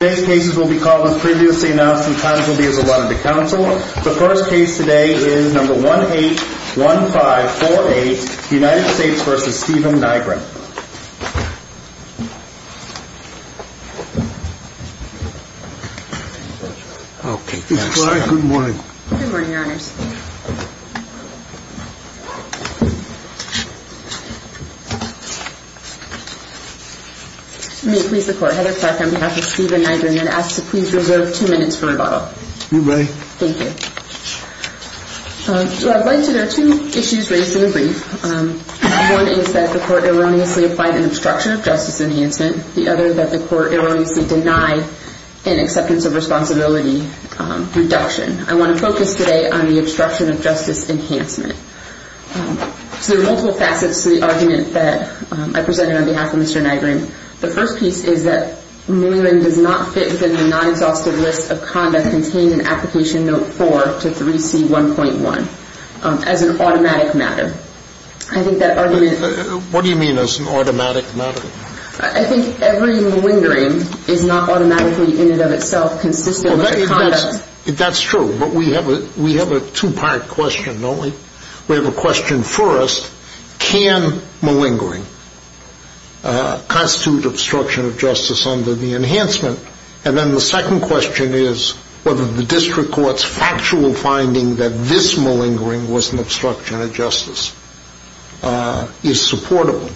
Today's cases will be called as previously announced and times will be as allotted to counsel. The first case today is number 181548, United States v. Stephen Nygren. Okay, good morning. Good morning, your honors. May it please the court, Heather Clark on behalf of Stephen Nygren, I'd ask to please reserve two minutes for rebuttal. You may. Thank you. So I'd like to, there are two issues raised in the brief. One is that the court erroneously applied an obstruction of justice enhancement. The other that the court erroneously denied an acceptance of responsibility reduction. I want to focus today on the obstruction of So there are multiple facets to the argument that I presented on behalf of Mr. Nygren. The first piece is that malingering does not fit within a non-exhaustive list of conduct contained in Application Note 4 to 3C1.1 as an automatic matter. I think that argument What do you mean as an automatic matter? I think every malingering is not automatically in and of itself consistent with the conduct That's true, but we have a two-part question, don't we? We have a question first. Can malingering constitute obstruction of justice under the enhancement? And then the second question is whether the district court's factual finding that this malingering was an obstruction of justice is supportable.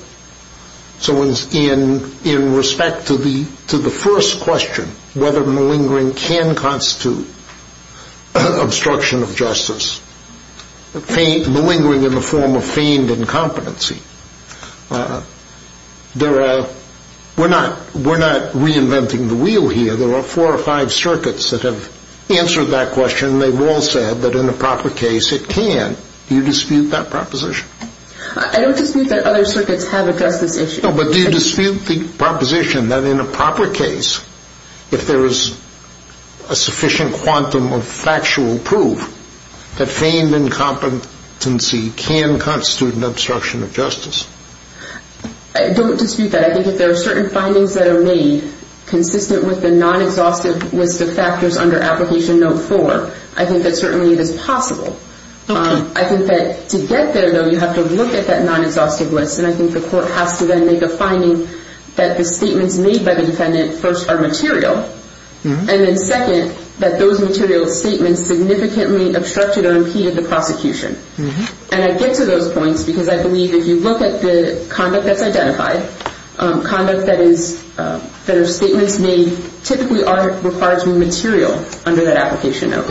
So in respect to the first question, whether malingering can constitute obstruction of justice, malingering in the form of feigned incompetency, we're not reinventing the wheel here. There are four or five circuits that have answered that question and they've all said that in a proper case it can. Do you dispute that proposition? I don't dispute that other circuits have addressed this issue. No, but do you dispute the proposition that in a proper case, if there is a sufficient quantum of factual proof that feigned incompetency can constitute an obstruction of justice? I don't dispute that. I think if there are certain findings that are made consistent with the non-exhaustive list of factors under Application Note 4, I think that certainly it is possible. I think that to get there, though, you have to look at that non-exhaustive list and I think the court has to then make a finding that the statements made by the defendant, first, are material, and then second, that those material statements significantly obstructed or impeded the prosecution. And I get to those points because I believe if you look at the conduct that's identified, conduct that is, that are statements made typically are required to be material under that Application Note.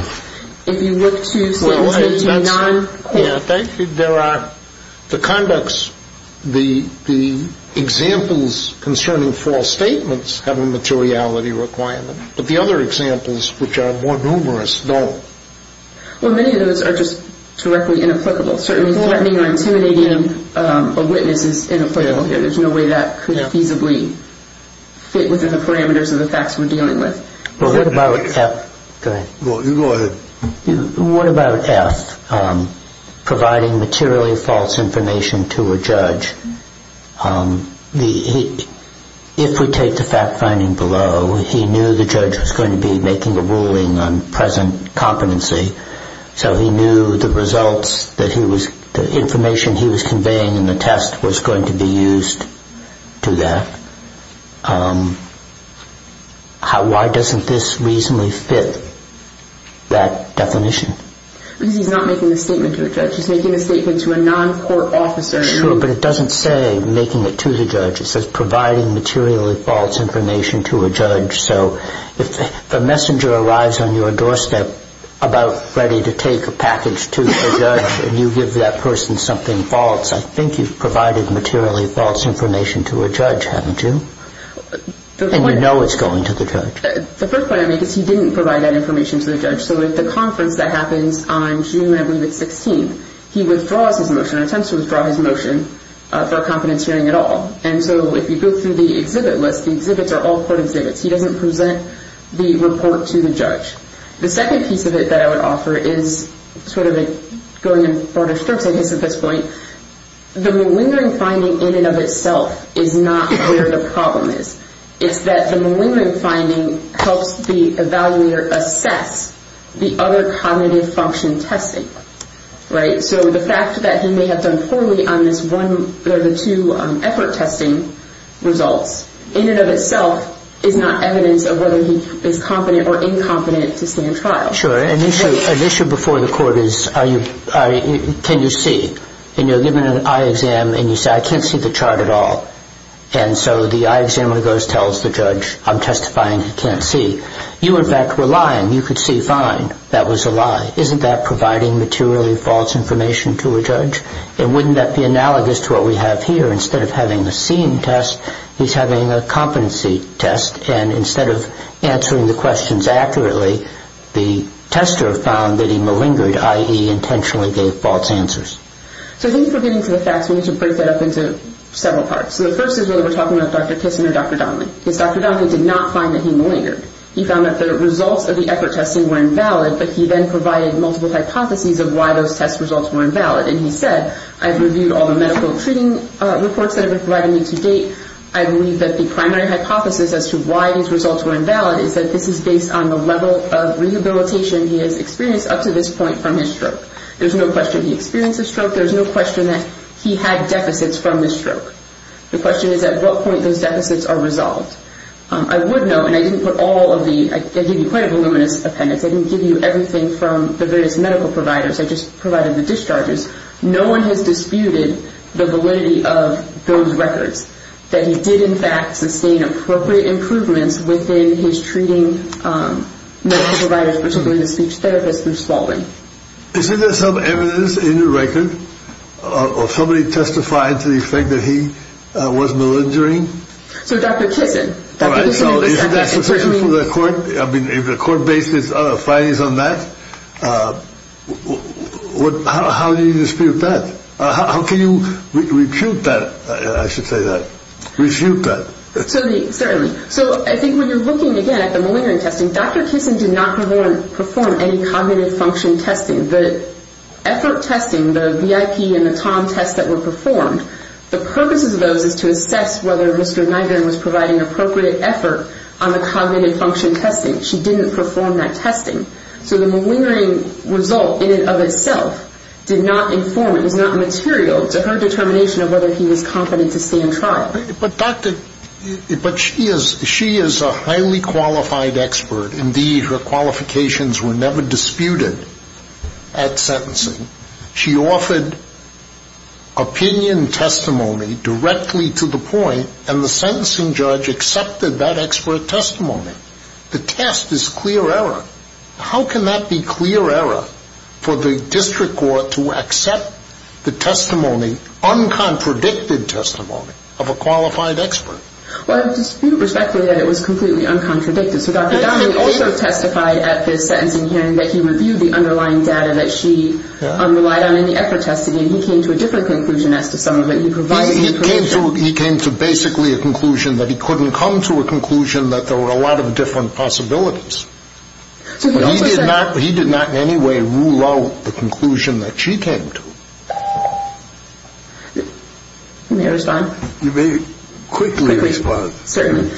If you look to statements made to a non-court... Yeah, I think there are, the conducts, the examples concerning false statements have a materiality requirement, but the other examples, which are more numerous, don't. Well, many of those are just directly inapplicable. Certainly threatening or intimidating a witness is inapplicable here. There's no way that could feasibly fit within the parameters of the facts we're dealing with. Well, what about... Go ahead. Go ahead. What about F, providing materially false information to a judge? If we take the fact finding below, he knew the judge was going to be making a ruling on present competency, so he knew the results that he was, the information he was conveying in the test was going to be used to that, why doesn't this reasonably fit that definition? Because he's not making the statement to a judge. He's making the statement to a non-court officer. Sure, but it doesn't say making it to the judge. It says providing materially false information to a judge. So if a messenger arrives on your doorstep about ready to take a package to the judge and you give that person something false, I think you've provided materially false information to a judge, haven't you? And you know it's going to the judge. The first point I make is he didn't provide that information to the judge. So at the conference that happens on June, I believe it's 16th, he withdraws his motion, attempts to withdraw his motion for a competence hearing at all. And so if you go through the exhibit list, the exhibits are all court exhibits. He doesn't present the report to the judge. The second piece of it that I would offer is sort of going in broader strokes, I guess, at this point, the malingering finding in and of itself is not where the problem is. It's that the malingering finding helps the evaluator assess the other cognitive function testing, right? So the fact that he may have done poorly on this one or the two effort testing results in and of itself is not evidence of whether he is competent or incompetent to stand trial. Sure. An issue before the court is, can you see? And you're given an eye exam and you say, I can't see the chart at all. And so the eye examiner goes and tells the judge, I'm testifying, he can't see. You, in fact, were lying. You could see fine. That was a lie. Isn't that providing materially false information to a judge? And wouldn't that be analogous to what we have here? Instead of having a seen test, he's having a competency test. And instead of answering the questions accurately, the tester found that he malingered, i.e. intentionally gave false answers. So I think if we're getting to the facts, we need to break that up into several parts. So the first is whether we're talking about Dr. Kissinger or Dr. Donnelly. Because Dr. Donnelly did not find that he malingered. He found that the results of the effort testing were invalid, but he then provided multiple hypotheses of why those test results were invalid. And he said, I've reviewed all the medical treating reports that have been provided to me to date. I believe that the primary hypothesis as to why these results were invalid is that this is based on the level of rehabilitation he has experienced up to this point from his stroke. There's no question he experienced a stroke. There's no question that he had deficits from the stroke. The question is at what point those deficits are resolved. I would note, and I didn't put all of the, I gave you quite a voluminous appendix. I didn't give you everything from the various medical providers. I just provided the discharges. No one has disputed the validity of those records. That he did, in fact, sustain appropriate improvements within his treating medical providers, particularly the speech therapists through swallowing. Is there some evidence in your record of somebody testifying to the effect that he was malingering? So Dr. Kissinger. All right, so is that sufficient for the court? I mean, if the court bases its findings on that, how do you dispute that? How can you recoup that, I should say that, recoup that? Certainly. So I think when you're looking, again, at the malingering testing, Dr. Kissinger did not perform any cognitive function testing. The effort testing, the VIP and the Tom tests that were performed, the purpose of those is to assess whether Mr. Nygren was providing appropriate effort on the cognitive function testing. She didn't perform that testing. So the malingering result in and of itself did not inform, it was not material to her determination of whether he was competent to stand trial. But she is a highly qualified expert. Indeed, her qualifications were never disputed at sentencing. She offered opinion testimony directly to the point, and the sentencing judge accepted that expert testimony. The test is clear error. How can that be clear error for the district court to accept the testimony, uncontradicted testimony, of a qualified expert? Well, I dispute respectfully that it was completely uncontradicted. So Dr. Donahue also testified at the sentencing hearing that he reviewed the underlying data that she relied on in the effort testing, and he came to a different conclusion as to some of it. He came to basically a conclusion that he couldn't come to a conclusion that there were a lot of different possibilities. But he did not in any way rule out the conclusion that she came to. May I respond? You may quickly respond. Certainly.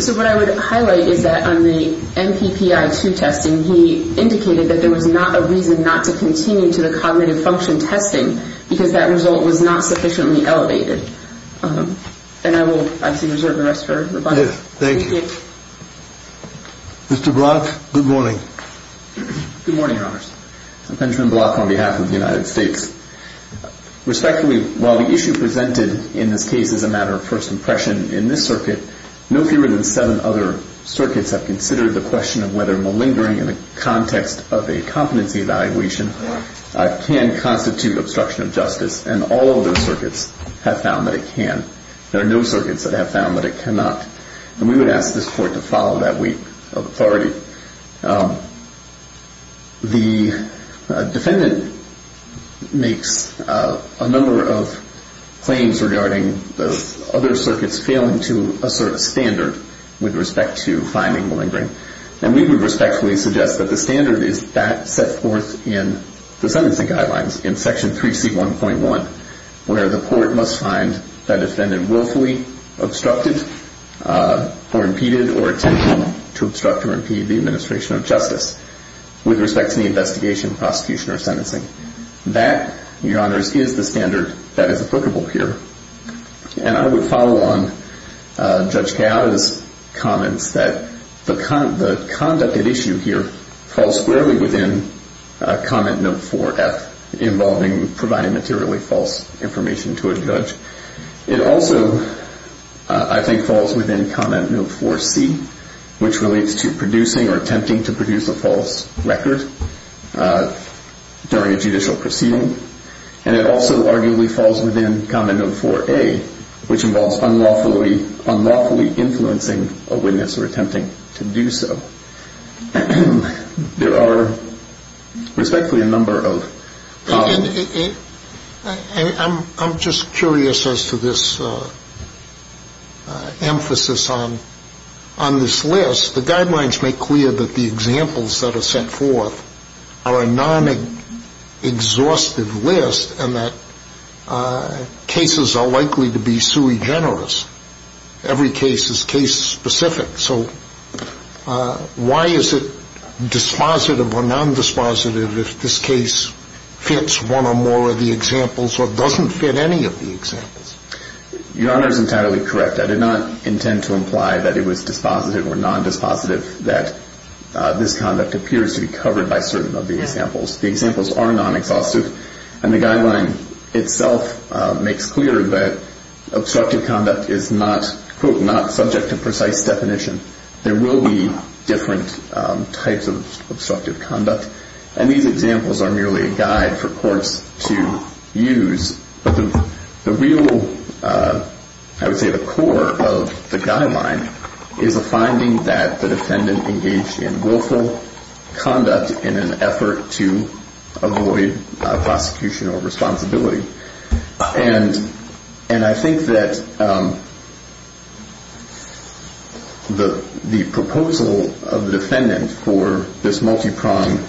So what I would highlight is that on the MPPI-2 testing, he indicated that there was not a reason not to continue to the cognitive function testing because that result was not sufficiently elevated. And I will actually reserve the rest for rebuttal. Thank you. Mr. Block, good morning. Good morning, Your Honors. Benjamin Block on behalf of the United States. Respectfully, while the issue presented in this case is a matter of first impression in this circuit, no fewer than seven other circuits have considered the question of whether malingering in the context of a competency evaluation can constitute obstruction of justice. And all of those circuits have found that it can. There are no circuits that have found that it cannot. And we would ask this Court to follow that week of authority. The defendant makes a number of claims regarding the other circuits failing to assert a standard with respect to finding malingering. And we would respectfully suggest that the standard is that set forth in the sentencing guidelines in Section 3C1.1, where the court must find that defendant willfully obstructed or disobey the administration of justice with respect to the investigation, prosecution, or sentencing. That, Your Honors, is the standard that is applicable here. And I would follow on Judge Cao's comments that the conduct at issue here falls squarely within Comment Note 4F involving providing materially false information to a judge. It also, I think, falls within Comment Note 4C, which relates to producing or attempting to produce a false record during a judicial proceeding. And it also arguably falls within Comment Note 4A, which involves unlawfully influencing a witness or attempting to do so. There are respectfully a number of... I'm just curious as to this emphasis on the selectivity of the statute of limitations. I mean, the statute of limitations is a statute of limitations. It's not a statute of limitations. It's a statute of limitations. And it's a statute of limitations. And if you look at the list, the guidelines make clear that the examples that are set forth are a non-exhaustive list and that cases are likely to be sui generis. Every case is case specific. So why is it dispositive or non-dispositive that this conduct appears to be covered by certain of the examples? The examples are non-exhaustive. And the guideline itself makes clear that obstructive conduct is not, quote, not subject to precise definition. There will be different types of obstructive conduct. And these examples are merely a guide for courts to use. But the real, I would say, the core of the guideline is a finding that courts are not subject to precise definition. It's a finding that the defendant engaged in willful conduct in an effort to avoid prosecution or responsibility. And I think that the proposal of the defendant for this multi-pronged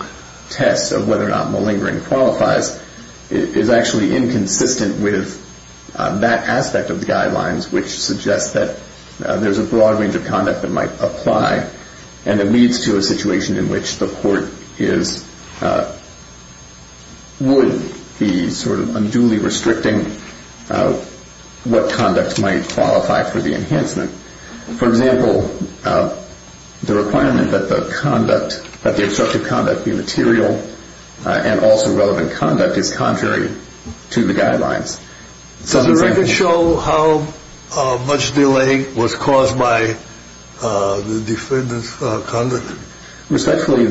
test of whether or not malingering qualifies is actually inconsistent with that aspect of the guidelines, which suggests that there's a broad range of conduct that might apply. And it leads to a situation in which the court is, would be sort of unduly restricting what conduct might qualify for the enhancement. For example, the requirement that the conduct, that the obstructive conduct be material and also relevant conduct is contrary to the guidelines. Does the record show how much delay was caused by the defendant's conduct? Respectfully,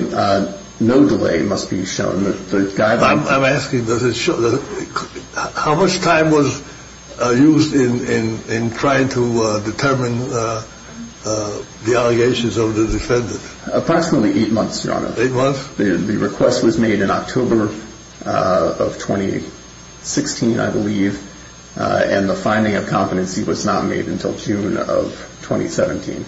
no delay must be shown. I'm asking, how much time was used in trying to determine the allegations of the defendant? The request was made in October of 2016, I believe. And the finding of competency was not made until June of 2017.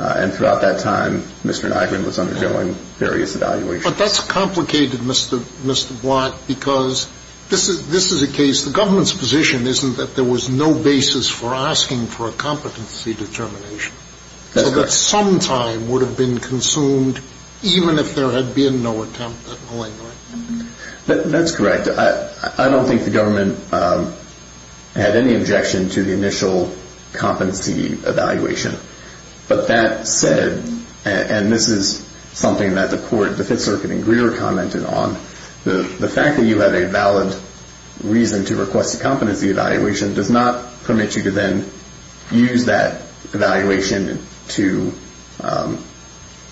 And throughout that time, Mr. Nygren was undergoing various evaluations. But that's complicated, Mr. Blatt, because this is a case, the government's position isn't that there was no basis for asking for a competency determination. So that some time would have been consumed, even if there had been no attempt at malingering. That's correct. I don't think the government had any objection to the initial competency evaluation. But that said, and this is something that the court, the Fifth Circuit and Greer commented on, the fact that you had a valid reason to request a competency evaluation does not permit you to then use that evaluation to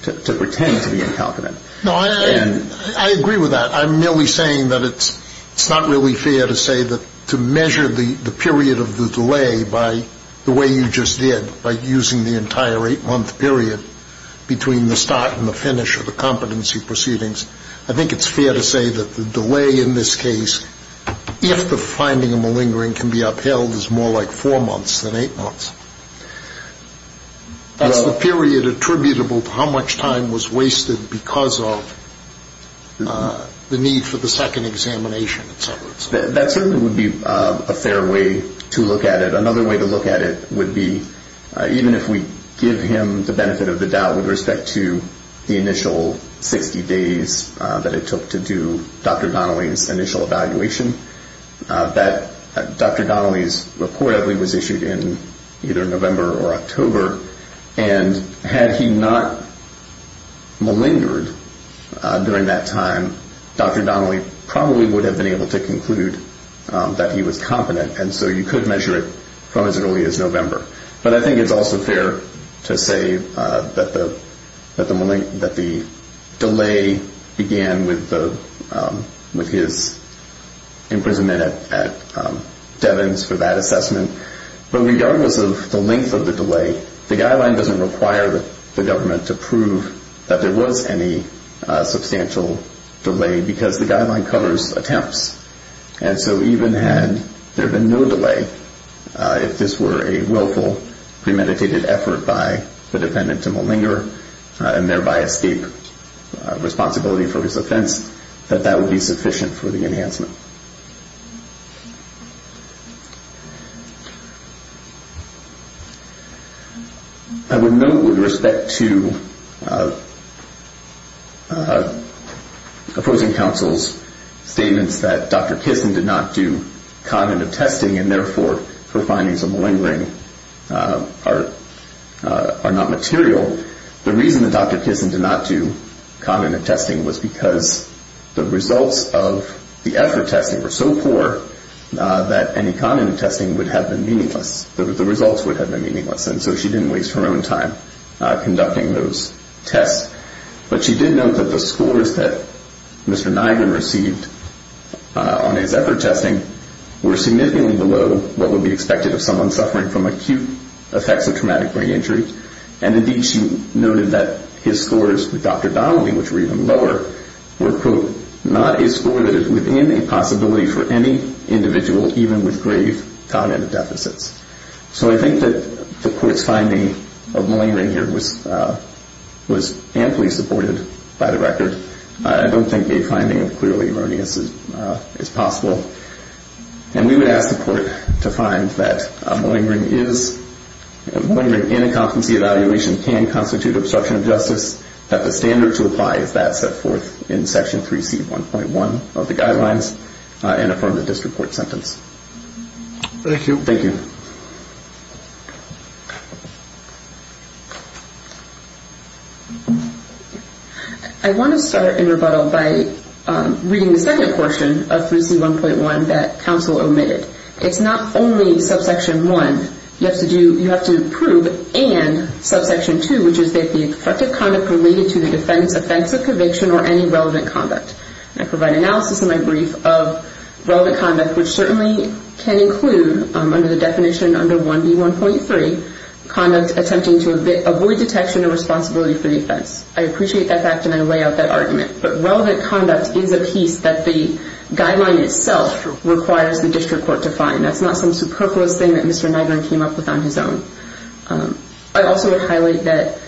pretend to be incompetent. No, I agree with that. I'm merely saying that it's not really fair to say that to measure the period of the delay by the way you just did, by using the entire eight-month period between the start and the finish of the competency proceedings. I think it's fair to say that the delay in this case, if the finding of malingering can be upheld, is more like four months than eight months. That's the period attributable to how much time was wasted because of the need for the second examination, et cetera, et cetera. That certainly would be a fair way to look at it. Another way to look at it would be, even if we give him the benefit of the doubt with respect to the initial 60 days, that it took to do Dr. Donnelly's initial evaluation, that Dr. Donnelly's reportedly was issued in either November or October. And had he not malingered during that time, Dr. Donnelly probably would have been able to conclude that he was competent. And so you could measure it from as early as November. But I think it's also fair to say that the delay began with his imprisonment at Devins for that assessment. But regardless of the length of the delay, the guideline doesn't require the government to prove that there was any substantial delay because the guideline covers attempts. And so even had there been no delay, if this were a willful premeditated effort by the defendant to malinger and thereby escape responsibility for his offense, that that would be sufficient for the enhancement. I would note with respect to opposing counsel's statements that Dr. Donnelly's initial evaluation was not sufficient. That Dr. Kissin did not do cognitive testing and therefore her findings of malingering are not material. The reason that Dr. Kissin did not do cognitive testing was because the results of the effort testing were so poor that any cognitive testing would have been meaningless. The results would have been meaningless and so she didn't waste her own time conducting those tests. But she did note that the scores that Mr. Nygren received on his effort testing were significantly below what would be expected of someone suffering from acute effects of traumatic brain injury. And indeed she noted that his scores with Dr. Donnelly, which were even lower, were, quote, not a score that is within a possibility for any individual even with grave cognitive deficits. So I think that the court's finding of malingering here was amply supported by the record. I don't think a finding of clearly erroneous is possible. And we would ask the court to find that malingering in a competency evaluation can constitute obstruction of justice, that the standard to apply is that set forth in Section 3C.1.1 of the guidelines, and affirm the district court sentence. Thank you. I want to start in rebuttal by reading the second portion of 3C.1.1 that counsel omitted. It's not only subsection one. You have to prove and subsection two, which is that the effective conduct related to the defense offense of conviction or any relevant conduct. I provide analysis in my brief of relevant conduct, which certainly can include, under the definition under 1B.1.3, conduct attempting to avoid detection or responsibility for the offense. I appreciate that fact, and I lay out that argument. But relevant conduct is a piece that the guideline itself requires the district court to find. That's not some superfluous thing that Mr. Nygren came up with on his own. I also would highlight that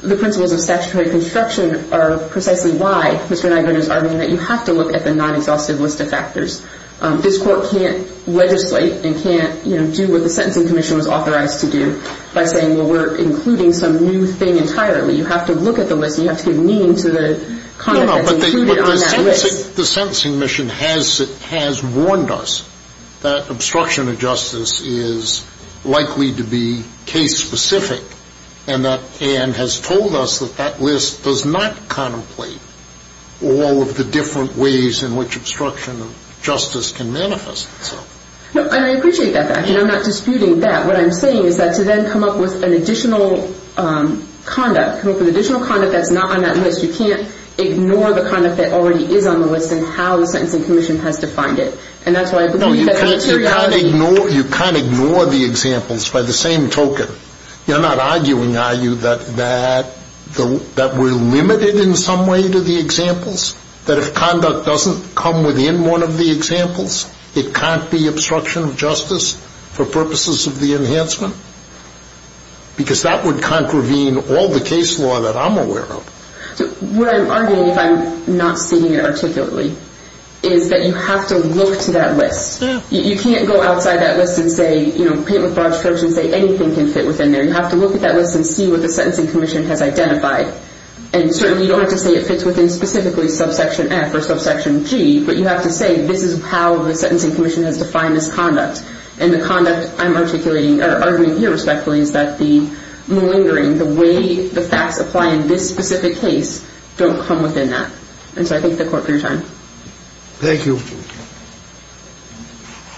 the principles of statutory construction are precisely why Mr. Nygren is arguing that you have to look at the non-exhaustive list of factors. This court can't legislate and can't, you know, do what the Sentencing Commission was authorized to do by saying, well, we're including some new thing entirely. You have to look at the list, and you have to give meaning to the conduct that's included on that list. No, no, but the Sentencing Mission has warned us that obstruction of justice is likely to be a part of the statute. It's likely to be case-specific, and has told us that that list does not contemplate all of the different ways in which obstruction of justice can manifest itself. No, and I appreciate that fact, and I'm not disputing that. What I'm saying is that to then come up with an additional conduct, come up with additional conduct that's not on that list, you can't ignore the conduct that already is on the list and how the Sentencing Commission has defined it. No, you can't ignore the examples by the same token. You're not arguing, are you, that we're limited in some way to the examples, that if conduct doesn't come within one of the examples, it can't be obstruction of justice for purposes of the enhancement? Because that would contravene all the case law that I'm aware of. So what I'm arguing, if I'm not seeing it articulately, is that you have to look to that list. You can't go outside that list and say, you know, paint with broad strokes and say anything can fit within there. You have to look at that list and see what the Sentencing Commission has identified. And certainly you don't have to say it fits within specifically subsection F or subsection G, but you have to say this is how the Sentencing Commission has defined this conduct. And the conduct I'm articulating, or arguing here, respectfully, is that the malingering, the way the facts apply in this specific case, don't come within that. And so I thank the court for your time. Thank you.